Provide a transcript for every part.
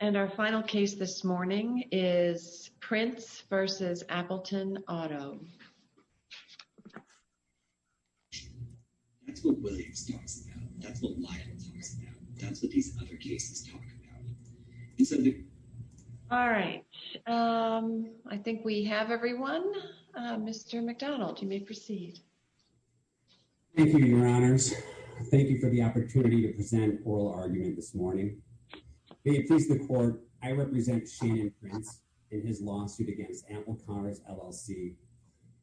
And our final case this morning is Prince v. Appleton Auto. That's what Williams talks about. That's what Lyle talks about. That's what these other cases talk about. All right. I think we have everyone. Mr. McDonald, you may proceed. Thank you, Your Honors. Thank you for the opportunity to present oral argument this morning. May it please the court, I represent Shannon Prince in his lawsuit against Appleton Auto LLC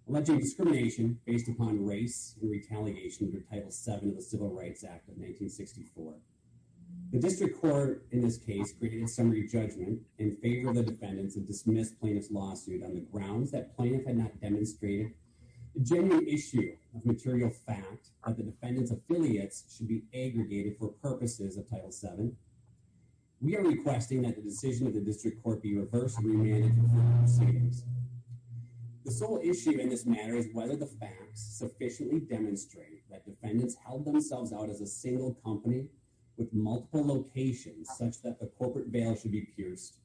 alleging discrimination based upon race and retaliation under Title VII of the Civil Rights Act of 1964. The district court in this case created a summary judgment in favor of the defendants and dismissed plaintiff's lawsuit on the grounds that plaintiff had not demonstrated the genuine issue of material fact that the defendant's affiliates should be aggregated for purposes of Title VII. We are requesting that the decision of the district court be reversed and remanded to court proceedings. The sole issue in this matter is whether the facts sufficiently demonstrate that defendants held themselves out as a single company with multiple locations such that the corporate veil should be pierced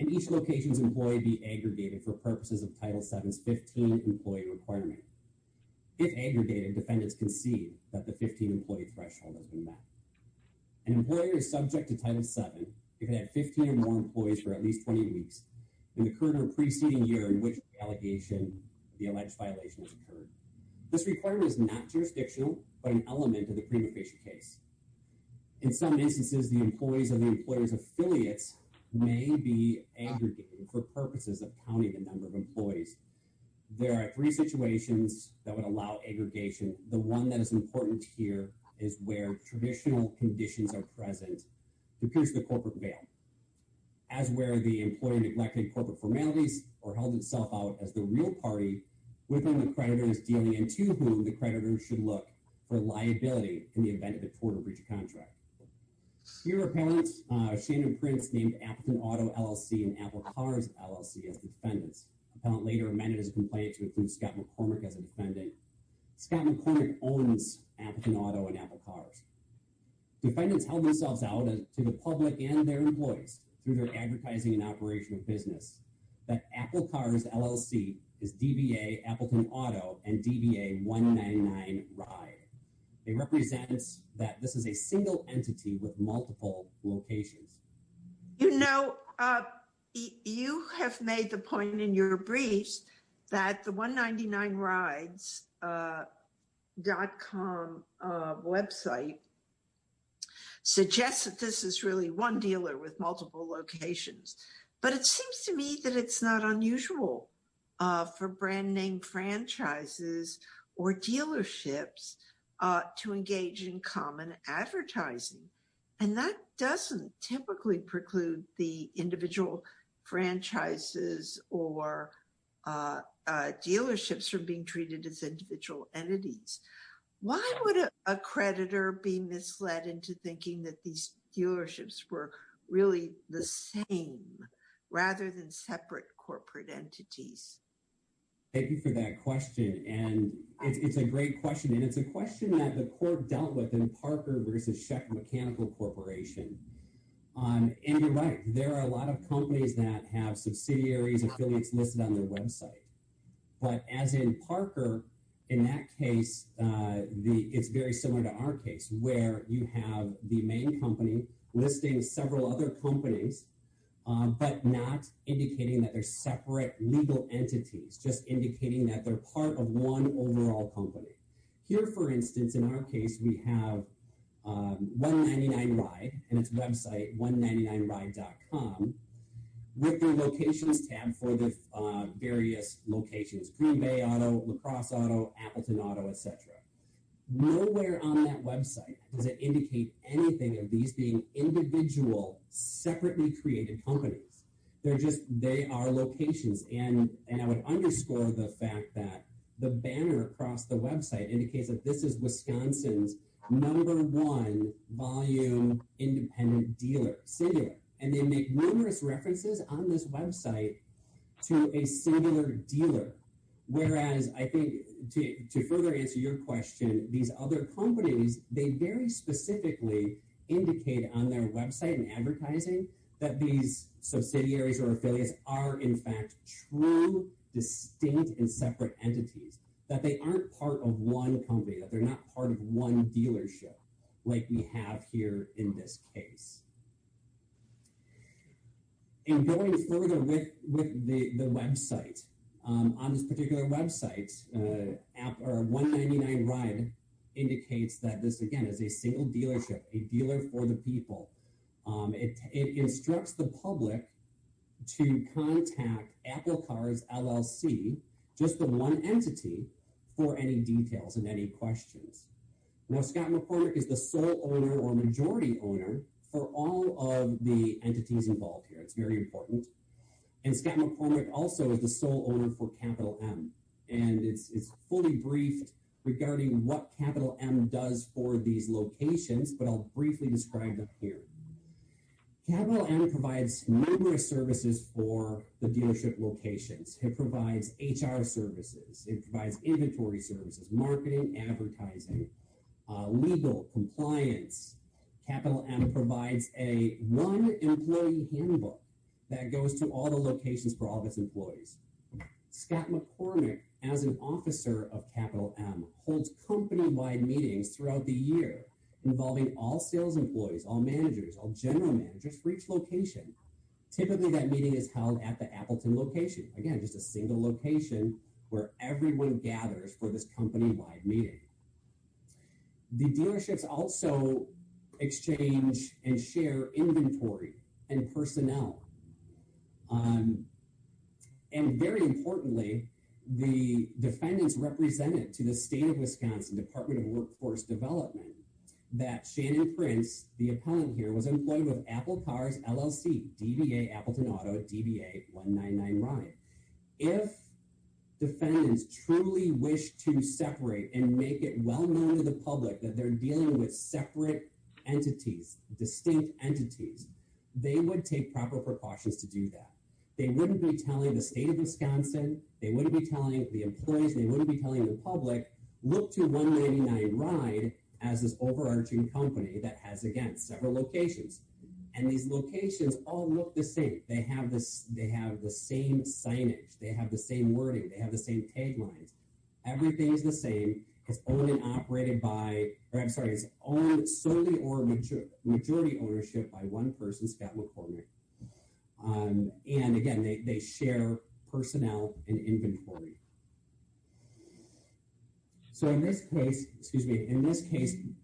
and each location's employee be aggregated for purposes of Title VII's 15-employee requirement. If aggregated, defendants can see that the 15-employee threshold has been met. An employer is subject to Title VII if it had 15 or more employees for at least 20 weeks in the current or preceding year in which the allegation of the alleged violation has occurred. This requirement is not jurisdictional but an element of the prima facie case. In some instances, the employees of the employer's affiliates may be aggregated for purposes of counting the number of employees. There are three situations that would allow aggregation. The one that is important here is where traditional conditions are present to pierce the corporate veil, as where the employee neglected corporate formalities or held itself out as the real party with whom the creditor is dealing and to whom the creditor should look for liability in the event of a tort or breach of contract. Here are appellants Shannon Prince named Appleton Auto LLC and Apple Cars LLC as defendants. Appellant later amended his complaint to include Scott McCormick as a defendant. Scott McCormick owns Appleton Auto and Apple Cars. Defendants held themselves out to the public and their employees through their advertising and operational business. But Apple Cars LLC is DBA Appleton Auto and DBA 199 Ride. It represents that this is a single entity with multiple locations. You know, you have made the point in your briefs that the 199Rides.com website suggests that this is really one dealer with multiple locations. But it seems to me that it's not unusual for brand name franchises or dealerships to engage in common advertising. And that doesn't typically preclude the individual franchises or dealerships from being treated as individual entities. Why would a creditor be misled into thinking that these dealerships were really the same rather than separate corporate entities? Thank you for that question. And it's a great question. And it's a question that the court dealt with in Parker versus Sheck Mechanical Corporation. And you're right, there are a lot of companies that have subsidiaries, affiliates listed on their website. But as in Parker, in that case, it's very similar to our case where you have the main company listing several other companies, but not indicating that they're separate legal entities, just indicating that they're part of one overall company. Here, for instance, in our case, we have 199Ride and its website, 199Ride.com, with their locations tab for the various locations. Green Bay Auto, La Crosse Auto, Appleton Auto, etc. Nowhere on that website does it indicate anything of these being individual, separately created companies. They are locations. And I would underscore the fact that the banner across the website indicates that this is Wisconsin's number one volume independent dealer, singular. And they make numerous references on this website to a singular dealer. Whereas, I think, to further answer your question, these other companies, they very specifically indicate on their website and advertising that these subsidiaries or affiliates are, in fact, true, distinct, and separate entities. That they aren't part of one company, that they're not part of one dealership, like we have here in this case. And going further with the website, on this particular website, 199Ride indicates that this, again, is a single dealership, a dealer for the people. It instructs the public to contact Apple Cars LLC, just the one entity, for any details and any questions. Now, Scott McCormick is the sole owner or majority owner for all of the entities involved here. It's very important. And Scott McCormick also is the sole owner for Capital M. And it's fully briefed regarding what Capital M does for these locations, but I'll briefly describe them here. Capital M provides numerous services for the dealership locations. It provides HR services, it provides inventory services, marketing, advertising, legal, compliance. Capital M provides a one-employee handbook that goes to all the locations for all of its employees. Scott McCormick, as an officer of Capital M, holds company-wide meetings throughout the year involving all sales employees, all managers, all general managers for each location. Typically, that meeting is held at the Appleton location. Again, just a single location where everyone gathers for this company-wide meeting. The dealerships also exchange and share inventory and personnel. And very importantly, the defendants represented to the State of Wisconsin Department of Workforce Development that Shannon Prince, the appellant here, was employed with Apple Cars LLC, DBA Appleton Auto, DBA 199 Ryan. If defendants truly wish to separate and make it well known to the public that they're dealing with separate entities, distinct entities, they would take proper precautions to do that. They wouldn't be telling the State of Wisconsin, they wouldn't be telling the employees, they wouldn't be telling the public, look to 199 Ryan as this overarching company that has, again, several locations. And these locations all look the same. They have the same signage. They have the same wording. They have the same tag lines. Everything is the same. It's only operated by, or I'm sorry, it's owned solely or majority ownership by one person, Scott McCormick. And again, they share personnel and inventory. So in this case,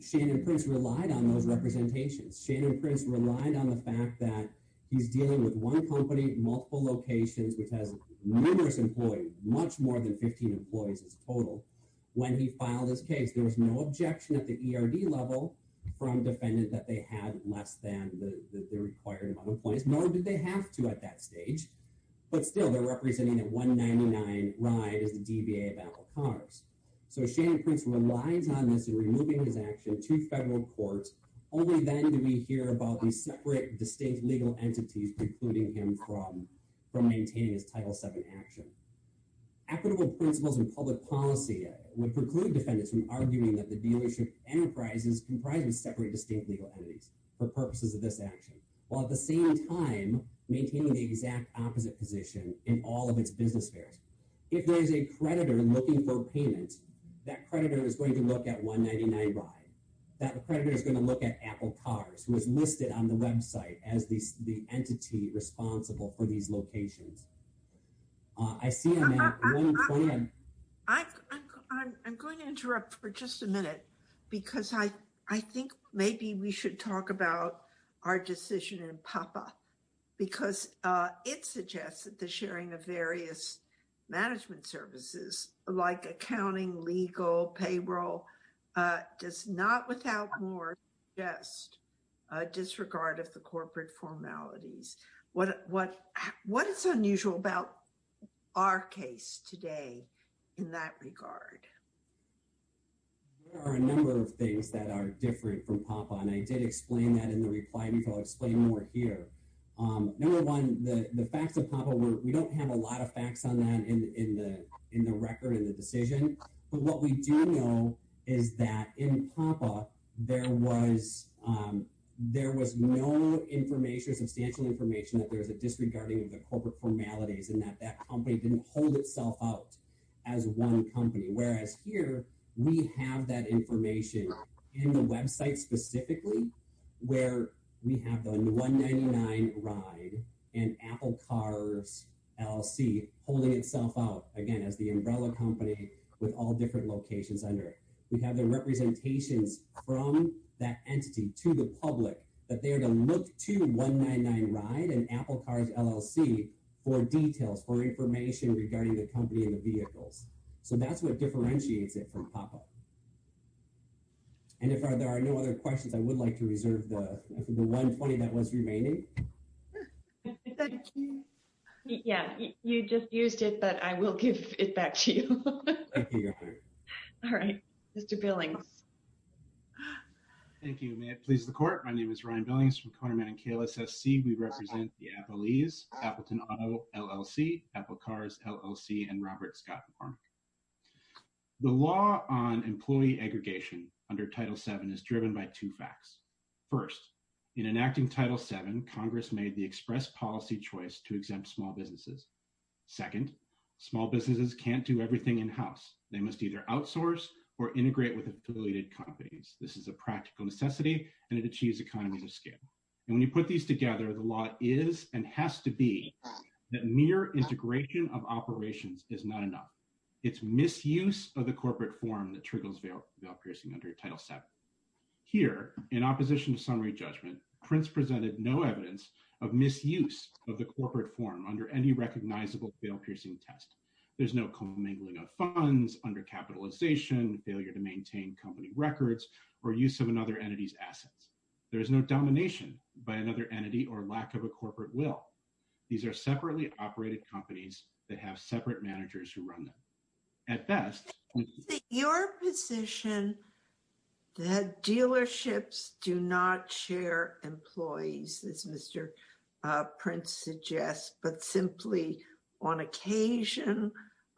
Shannon Prince relied on those representations. Shannon Prince relied on the fact that he's dealing with one company, multiple locations, which has numerous employees, much more than 15 employees as a total. When he filed his case, there was no objection at the ERD level from defendants that they had less than the required amount of employees, nor did they have to at that stage. But still, they're representing that 199 Ryan is the DBA of Apple Cars. So Shannon Prince relies on this in removing his action to federal courts. Only then do we hear about these separate, distinct legal entities precluding him from maintaining his Title VII action. Equitable principles and public policy would preclude defendants from arguing that the dealership enterprise is comprised of separate, distinct legal entities for purposes of this action, while at the same time maintaining the exact opposite position in all of its business fairs. If there is a creditor looking for payment, that creditor is going to look at 199 Ryan. That creditor is going to look at Apple Cars, who is listed on the website as the entity responsible for these locations. I see one plan. I'm going to interrupt for just a minute, because I think maybe we should talk about our decision in PAPA, because it suggests that the sharing of various management services like accounting, legal, payroll, does not without more just disregard of the corporate formalities. What is unusual about our case today in that regard? There are a number of things that are different from PAPA, and I did explain that in the reply before. I'll explain more here. Number one, the facts of PAPA, we don't have a lot of facts on that in the record, in the decision, but what we do know is that in PAPA, there was no information, substantial information, that there was a disregarding of the corporate formalities and that that company didn't hold itself out as one company. Whereas here, we have that information in the website specifically, where we have the 199 Ryan and Apple Cars LLC holding itself out, again, as the umbrella company with all different locations under it. So that's what differentiates it from PAPA. And if there are no other questions, I would like to reserve the 120 that was remaining. Yeah, you just used it, but I will give it back to you. All right, Mr. Billing. Thank you. May it please the court. My name is Ryan Billings from Koderman and KLSSC. We represent the Apple E's, Appleton Auto LLC, Apple Cars LLC, and Robert Scott Farmer. The law on employee aggregation under Title VII is driven by two facts. First, in enacting Title VII, Congress made the express policy choice to exempt small businesses. Second, small businesses can't do everything in-house. They must either outsource or integrate with affiliated companies. This is a practical necessity, and it achieves economies of scale. And when you put these together, the law is and has to be that mere integration of operations is not enough. It's misuse of the corporate form that triggers veil piercing under Title VII. Here, in opposition to summary judgment, Prince presented no evidence of misuse of the corporate form under any recognizable veil-piercing test. There's no commingling of funds under capitalization, failure to maintain company records, or use of another entity's assets. There is no domination by another entity or lack of a corporate will. These are separately operated companies that have separate managers who run them. At best… Is it your position that dealerships do not share employees, as Mr. Prince suggests, but simply, on occasion,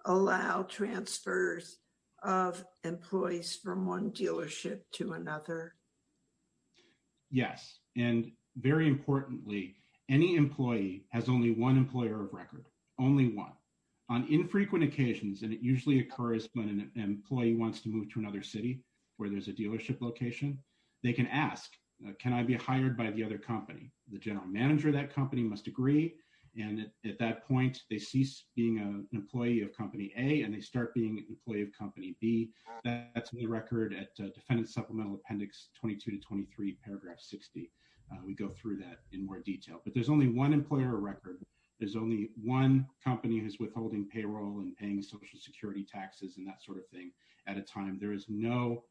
allow transfers of employees from one dealership to another? Yes. And, very importantly, any employee has only one employer of record. Only one. On infrequent occasions, and it usually occurs when an employee wants to move to another city where there's a dealership location, they can ask, Can I be hired by the other company? The general manager of that company must agree. And, at that point, they cease being an employee of Company A and they start being an employee of Company B. That's in the record at Defendant Supplemental Appendix 22-23, paragraph 60. We go through that in more detail. But there's only one employer of record. There's only one company who's withholding payroll and paying Social Security taxes and that sort of thing at a time. There is no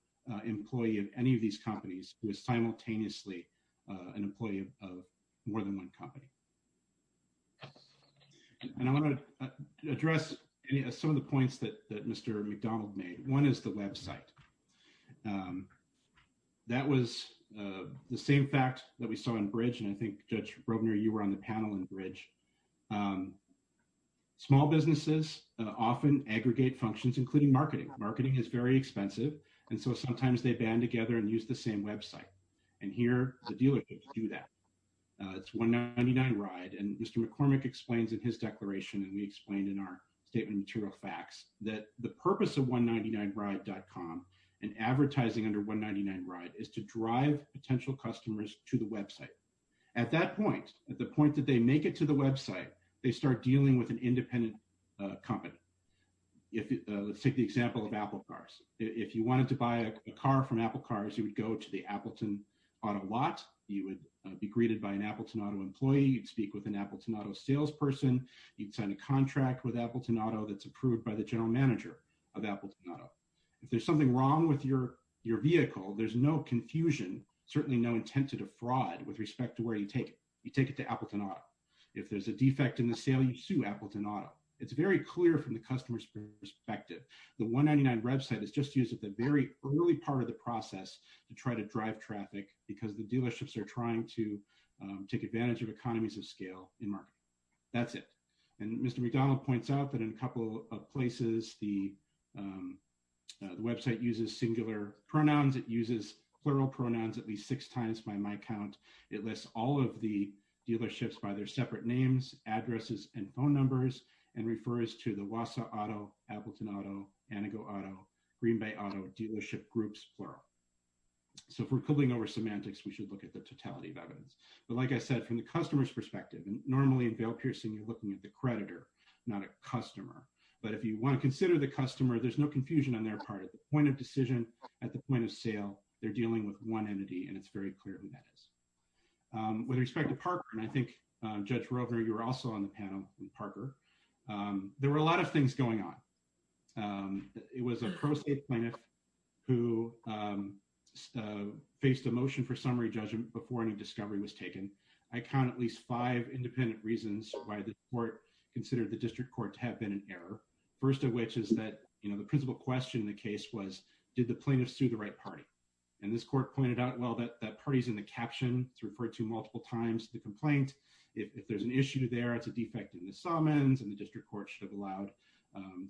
employee of any of these companies who is simultaneously an employee of more than one company. And I want to address some of the points that Mr. McDonald made. One is the website. That was the same fact that we saw in Bridge, and I think, Judge Robner, you were on the panel in Bridge. Small businesses often aggregate functions, including marketing. Marketing is very expensive, and so sometimes they band together and use the same website. And here, the dealerships do that. It's 199Ride, and Mr. McCormick explains in his declaration, and we explained in our statement of material facts, that the purpose of 199Ride.com and advertising under 199Ride is to drive potential customers to the website. At that point, at the point that they make it to the website, they start dealing with an independent company. Let's take the example of Apple cars. If you wanted to buy a car from Apple cars, you would go to the Appleton auto lot. You would be greeted by an Appleton auto employee. You'd speak with an Appleton auto salesperson. You'd sign a contract with Appleton auto that's approved by the general manager of Appleton auto. If there's something wrong with your vehicle, there's no confusion, certainly no intent to defraud with respect to where you take it. You take it to Appleton auto. If there's a defect in the sale, you sue Appleton auto. It's very clear from the customer's perspective. The 199 website is just used at the very early part of the process to try to drive traffic because the dealerships are trying to take advantage of economies of scale in marketing. That's it. Mr. McDonald points out that in a couple of places, the website uses singular pronouns. It uses plural pronouns at least six times by my count. It lists all of the dealerships by their separate names, addresses, and phone numbers and refers to the Wasa auto, Appleton auto, Anago auto, Green Bay auto dealership groups, plural. If we're pulling over semantics, we should look at the totality of evidence. Like I said, from the customer's perspective, normally in bail piercing, you're looking at the creditor, not a customer. If you want to consider the customer, there's no confusion on their part. At the point of decision, at the point of sale, they're dealing with one entity, and it's very clear who that is. With respect to Parker, and I think Judge Rovner, you were also on the panel with Parker, there were a lot of things going on. It was a pro state plaintiff who faced a motion for summary judgment before any discovery was taken. I count at least five independent reasons why the court considered the district court to have been in error. First of which is that the principal question in the case was, did the plaintiff sue the right party? And this court pointed out, well, that party's in the caption. It's referred to multiple times in the complaint. If there's an issue there, it's a defect in the summons, and the district court should have allowed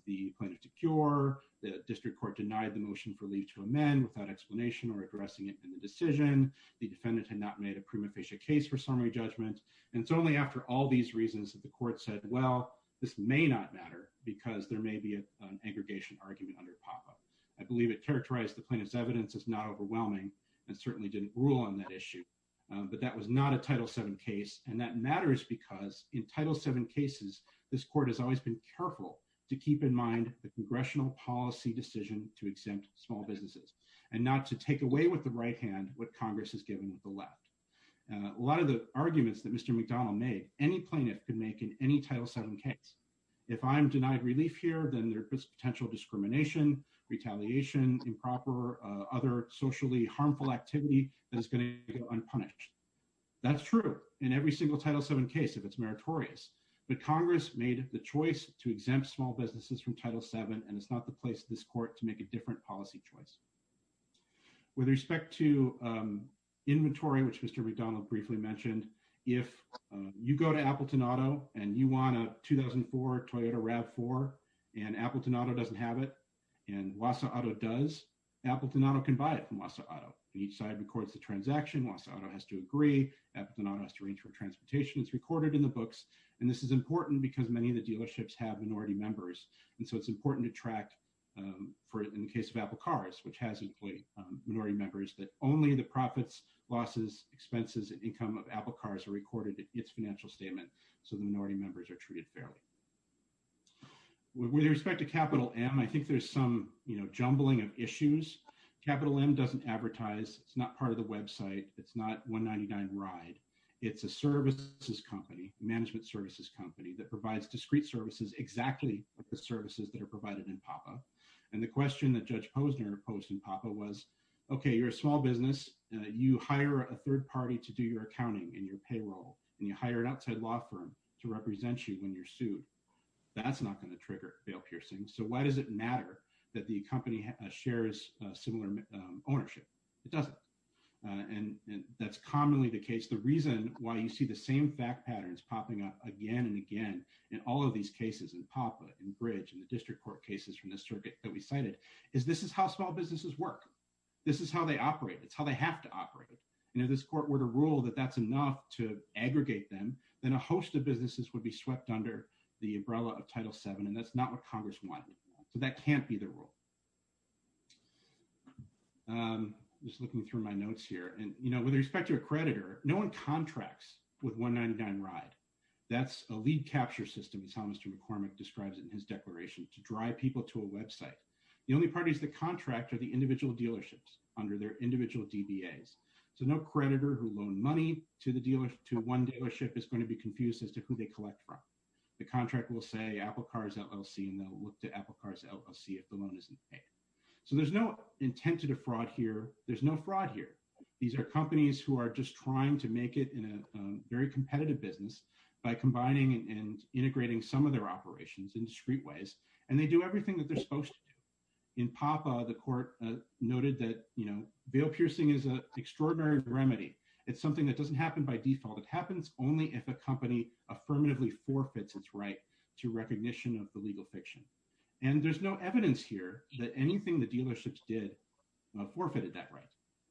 the plaintiff to cure. The district court denied the motion for leave to amend without explanation or addressing it in the decision. The defendant had not made a prima facie case for summary judgment. And it's only after all these reasons that the court said, well, this may not matter because there may be an aggregation argument under PAPA. I believe it characterized the plaintiff's evidence as not overwhelming and certainly didn't rule on that issue. But that was not a Title VII case. And that matters because in Title VII cases, this court has always been careful to keep in mind the congressional policy decision to exempt small businesses. And not to take away with the right hand what Congress has given the left. A lot of the arguments that Mr. McDonnell made, any plaintiff could make in any Title VII case. If I'm denied relief here, then there's potential discrimination, retaliation, improper, other socially harmful activity that is going to go unpunished. That's true in every single Title VII case if it's meritorious. But Congress made the choice to exempt small businesses from Title VII, and it's not the place of this court to make a different policy choice. With respect to inventory, which Mr. McDonnell briefly mentioned, if you go to Appleton Auto and you want a 2004 Toyota RAV4 and Appleton Auto doesn't have it, and Wasa Auto does, Appleton Auto can buy it from Wasa Auto. Each side records the transaction. Wasa Auto has to agree. Appleton Auto has to arrange for transportation. It's recorded in the books. And this is important because many of the dealerships have minority members. And so it's important to track, in the case of Apple Cars, which has employee minority members, that only the profits, losses, expenses, and income of Apple Cars are recorded in its financial statement, so the minority members are treated fairly. With respect to Capital M, I think there's some jumbling of issues. Capital M doesn't advertise. It's not part of the website. It's not 199 Ride. It's a services company, management services company, that provides discrete services exactly like the services that are provided in PAPA. And the question that Judge Posner posed in PAPA was, okay, you're a small business. You hire a third party to do your accounting and your payroll, and you hire an outside law firm to represent you when you're sued. That's not going to trigger bail piercing. So why does it matter that the company shares similar ownership? It doesn't. And that's commonly the case. The reason why you see the same fact patterns popping up again and again in all of these cases, in PAPA, in Bridge, in the district court cases from this circuit that we cited, is this is how small businesses work. This is how they operate. It's how they have to operate. And if this court were to rule that that's enough to aggregate them, then a host of businesses would be swept under the umbrella of Title VII, and that's not what Congress wanted. So that can't be the rule. I'm just looking through my notes here. And, you know, with respect to a creditor, no one contracts with 199RIDE. That's a lead capture system, as Thomas McCormick describes in his declaration, to drive people to a website. The only parties that contract are the individual dealerships under their individual DBAs. So no creditor who loaned money to one dealership is going to be confused as to who they collect from. The contract will say Apple Cars LLC, and they'll look to Apple Cars LLC if the loan isn't paid. So there's no intent to defraud here. There's no fraud here. These are companies who are just trying to make it in a very competitive business by combining and integrating some of their operations in discrete ways, and they do everything that they're supposed to do. In Papa, the court noted that, you know, veil piercing is an extraordinary remedy. It's something that doesn't happen by default. It happens only if a company affirmatively forfeits its right to recognition of the legal fiction. And there's no evidence here that anything the dealerships did forfeited that right.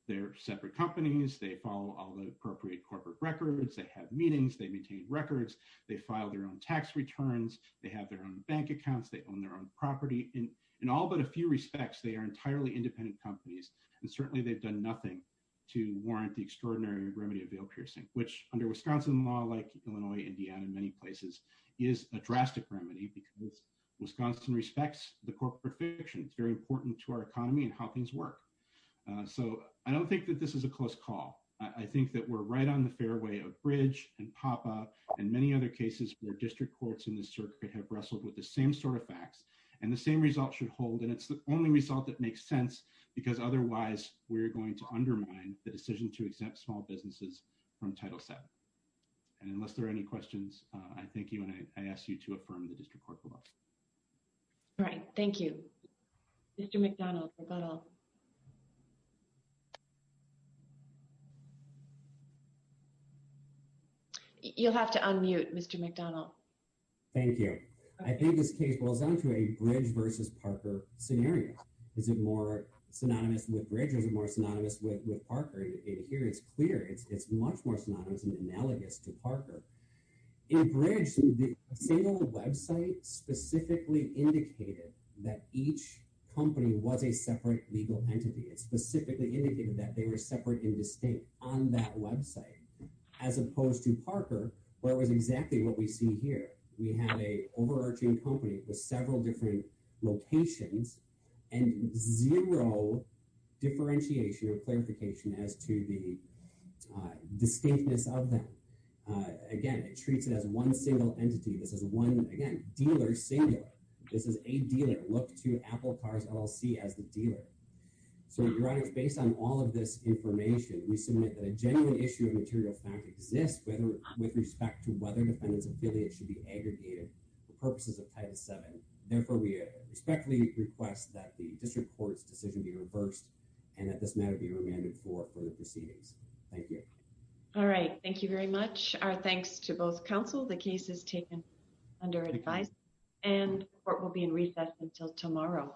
They're separate companies, they follow all the appropriate corporate records, they have meetings, they maintain records, they file their own tax returns, they have their own bank accounts, they own their own property. In all but a few respects, they are entirely independent companies, and certainly they've done nothing to warrant the extraordinary remedy of veil piercing, which under Wisconsin law, like Illinois, Indiana, and many places, is a drastic remedy because Wisconsin respects the corporate fiction. It's very important to our economy and how things work. So I don't think that this is a close call. I think that we're right on the fairway of Bridge and Papa, and many other cases where district courts in this circuit have wrestled with the same sort of facts and the same result should hold, and it's the only result that makes sense, because otherwise we're going to undermine the decision to exempt small businesses from Title VII. And unless there are any questions, I thank you, and I ask you to affirm the district court proposal. All right, thank you. Mr. McDonald, you'll have to unmute, Mr. McDonald. Thank you. I think this case boils down to a Bridge versus Parker scenario. Is it more synonymous with Bridge or is it more synonymous with Parker? Here it's clear. It's much more synonymous and analogous to Parker. In Bridge, the same old website specifically indicated that each company was a separate legal entity. It specifically indicated that they were separate and distinct on that website, as opposed to Parker, where it was exactly what we see here. We have a overarching company with several different locations and zero differentiation or clarification as to the distinctness of them. Again, it treats it as one single entity. This is one, again, dealer singular. This is a dealer. Look to Apple Cars LLC as the dealer. So, Your Honor, based on all of this information, we submit that a genuine issue of material fact exists with respect to whether defendants' affiliates should be aggregated for purposes of Title VII. Therefore, we respectfully request that the district court's decision be reversed and that this matter be remanded for further proceedings. Thank you. All right. Thank you very much. Our thanks to both counsel. The case is taken under advice and the court will be in recess until tomorrow.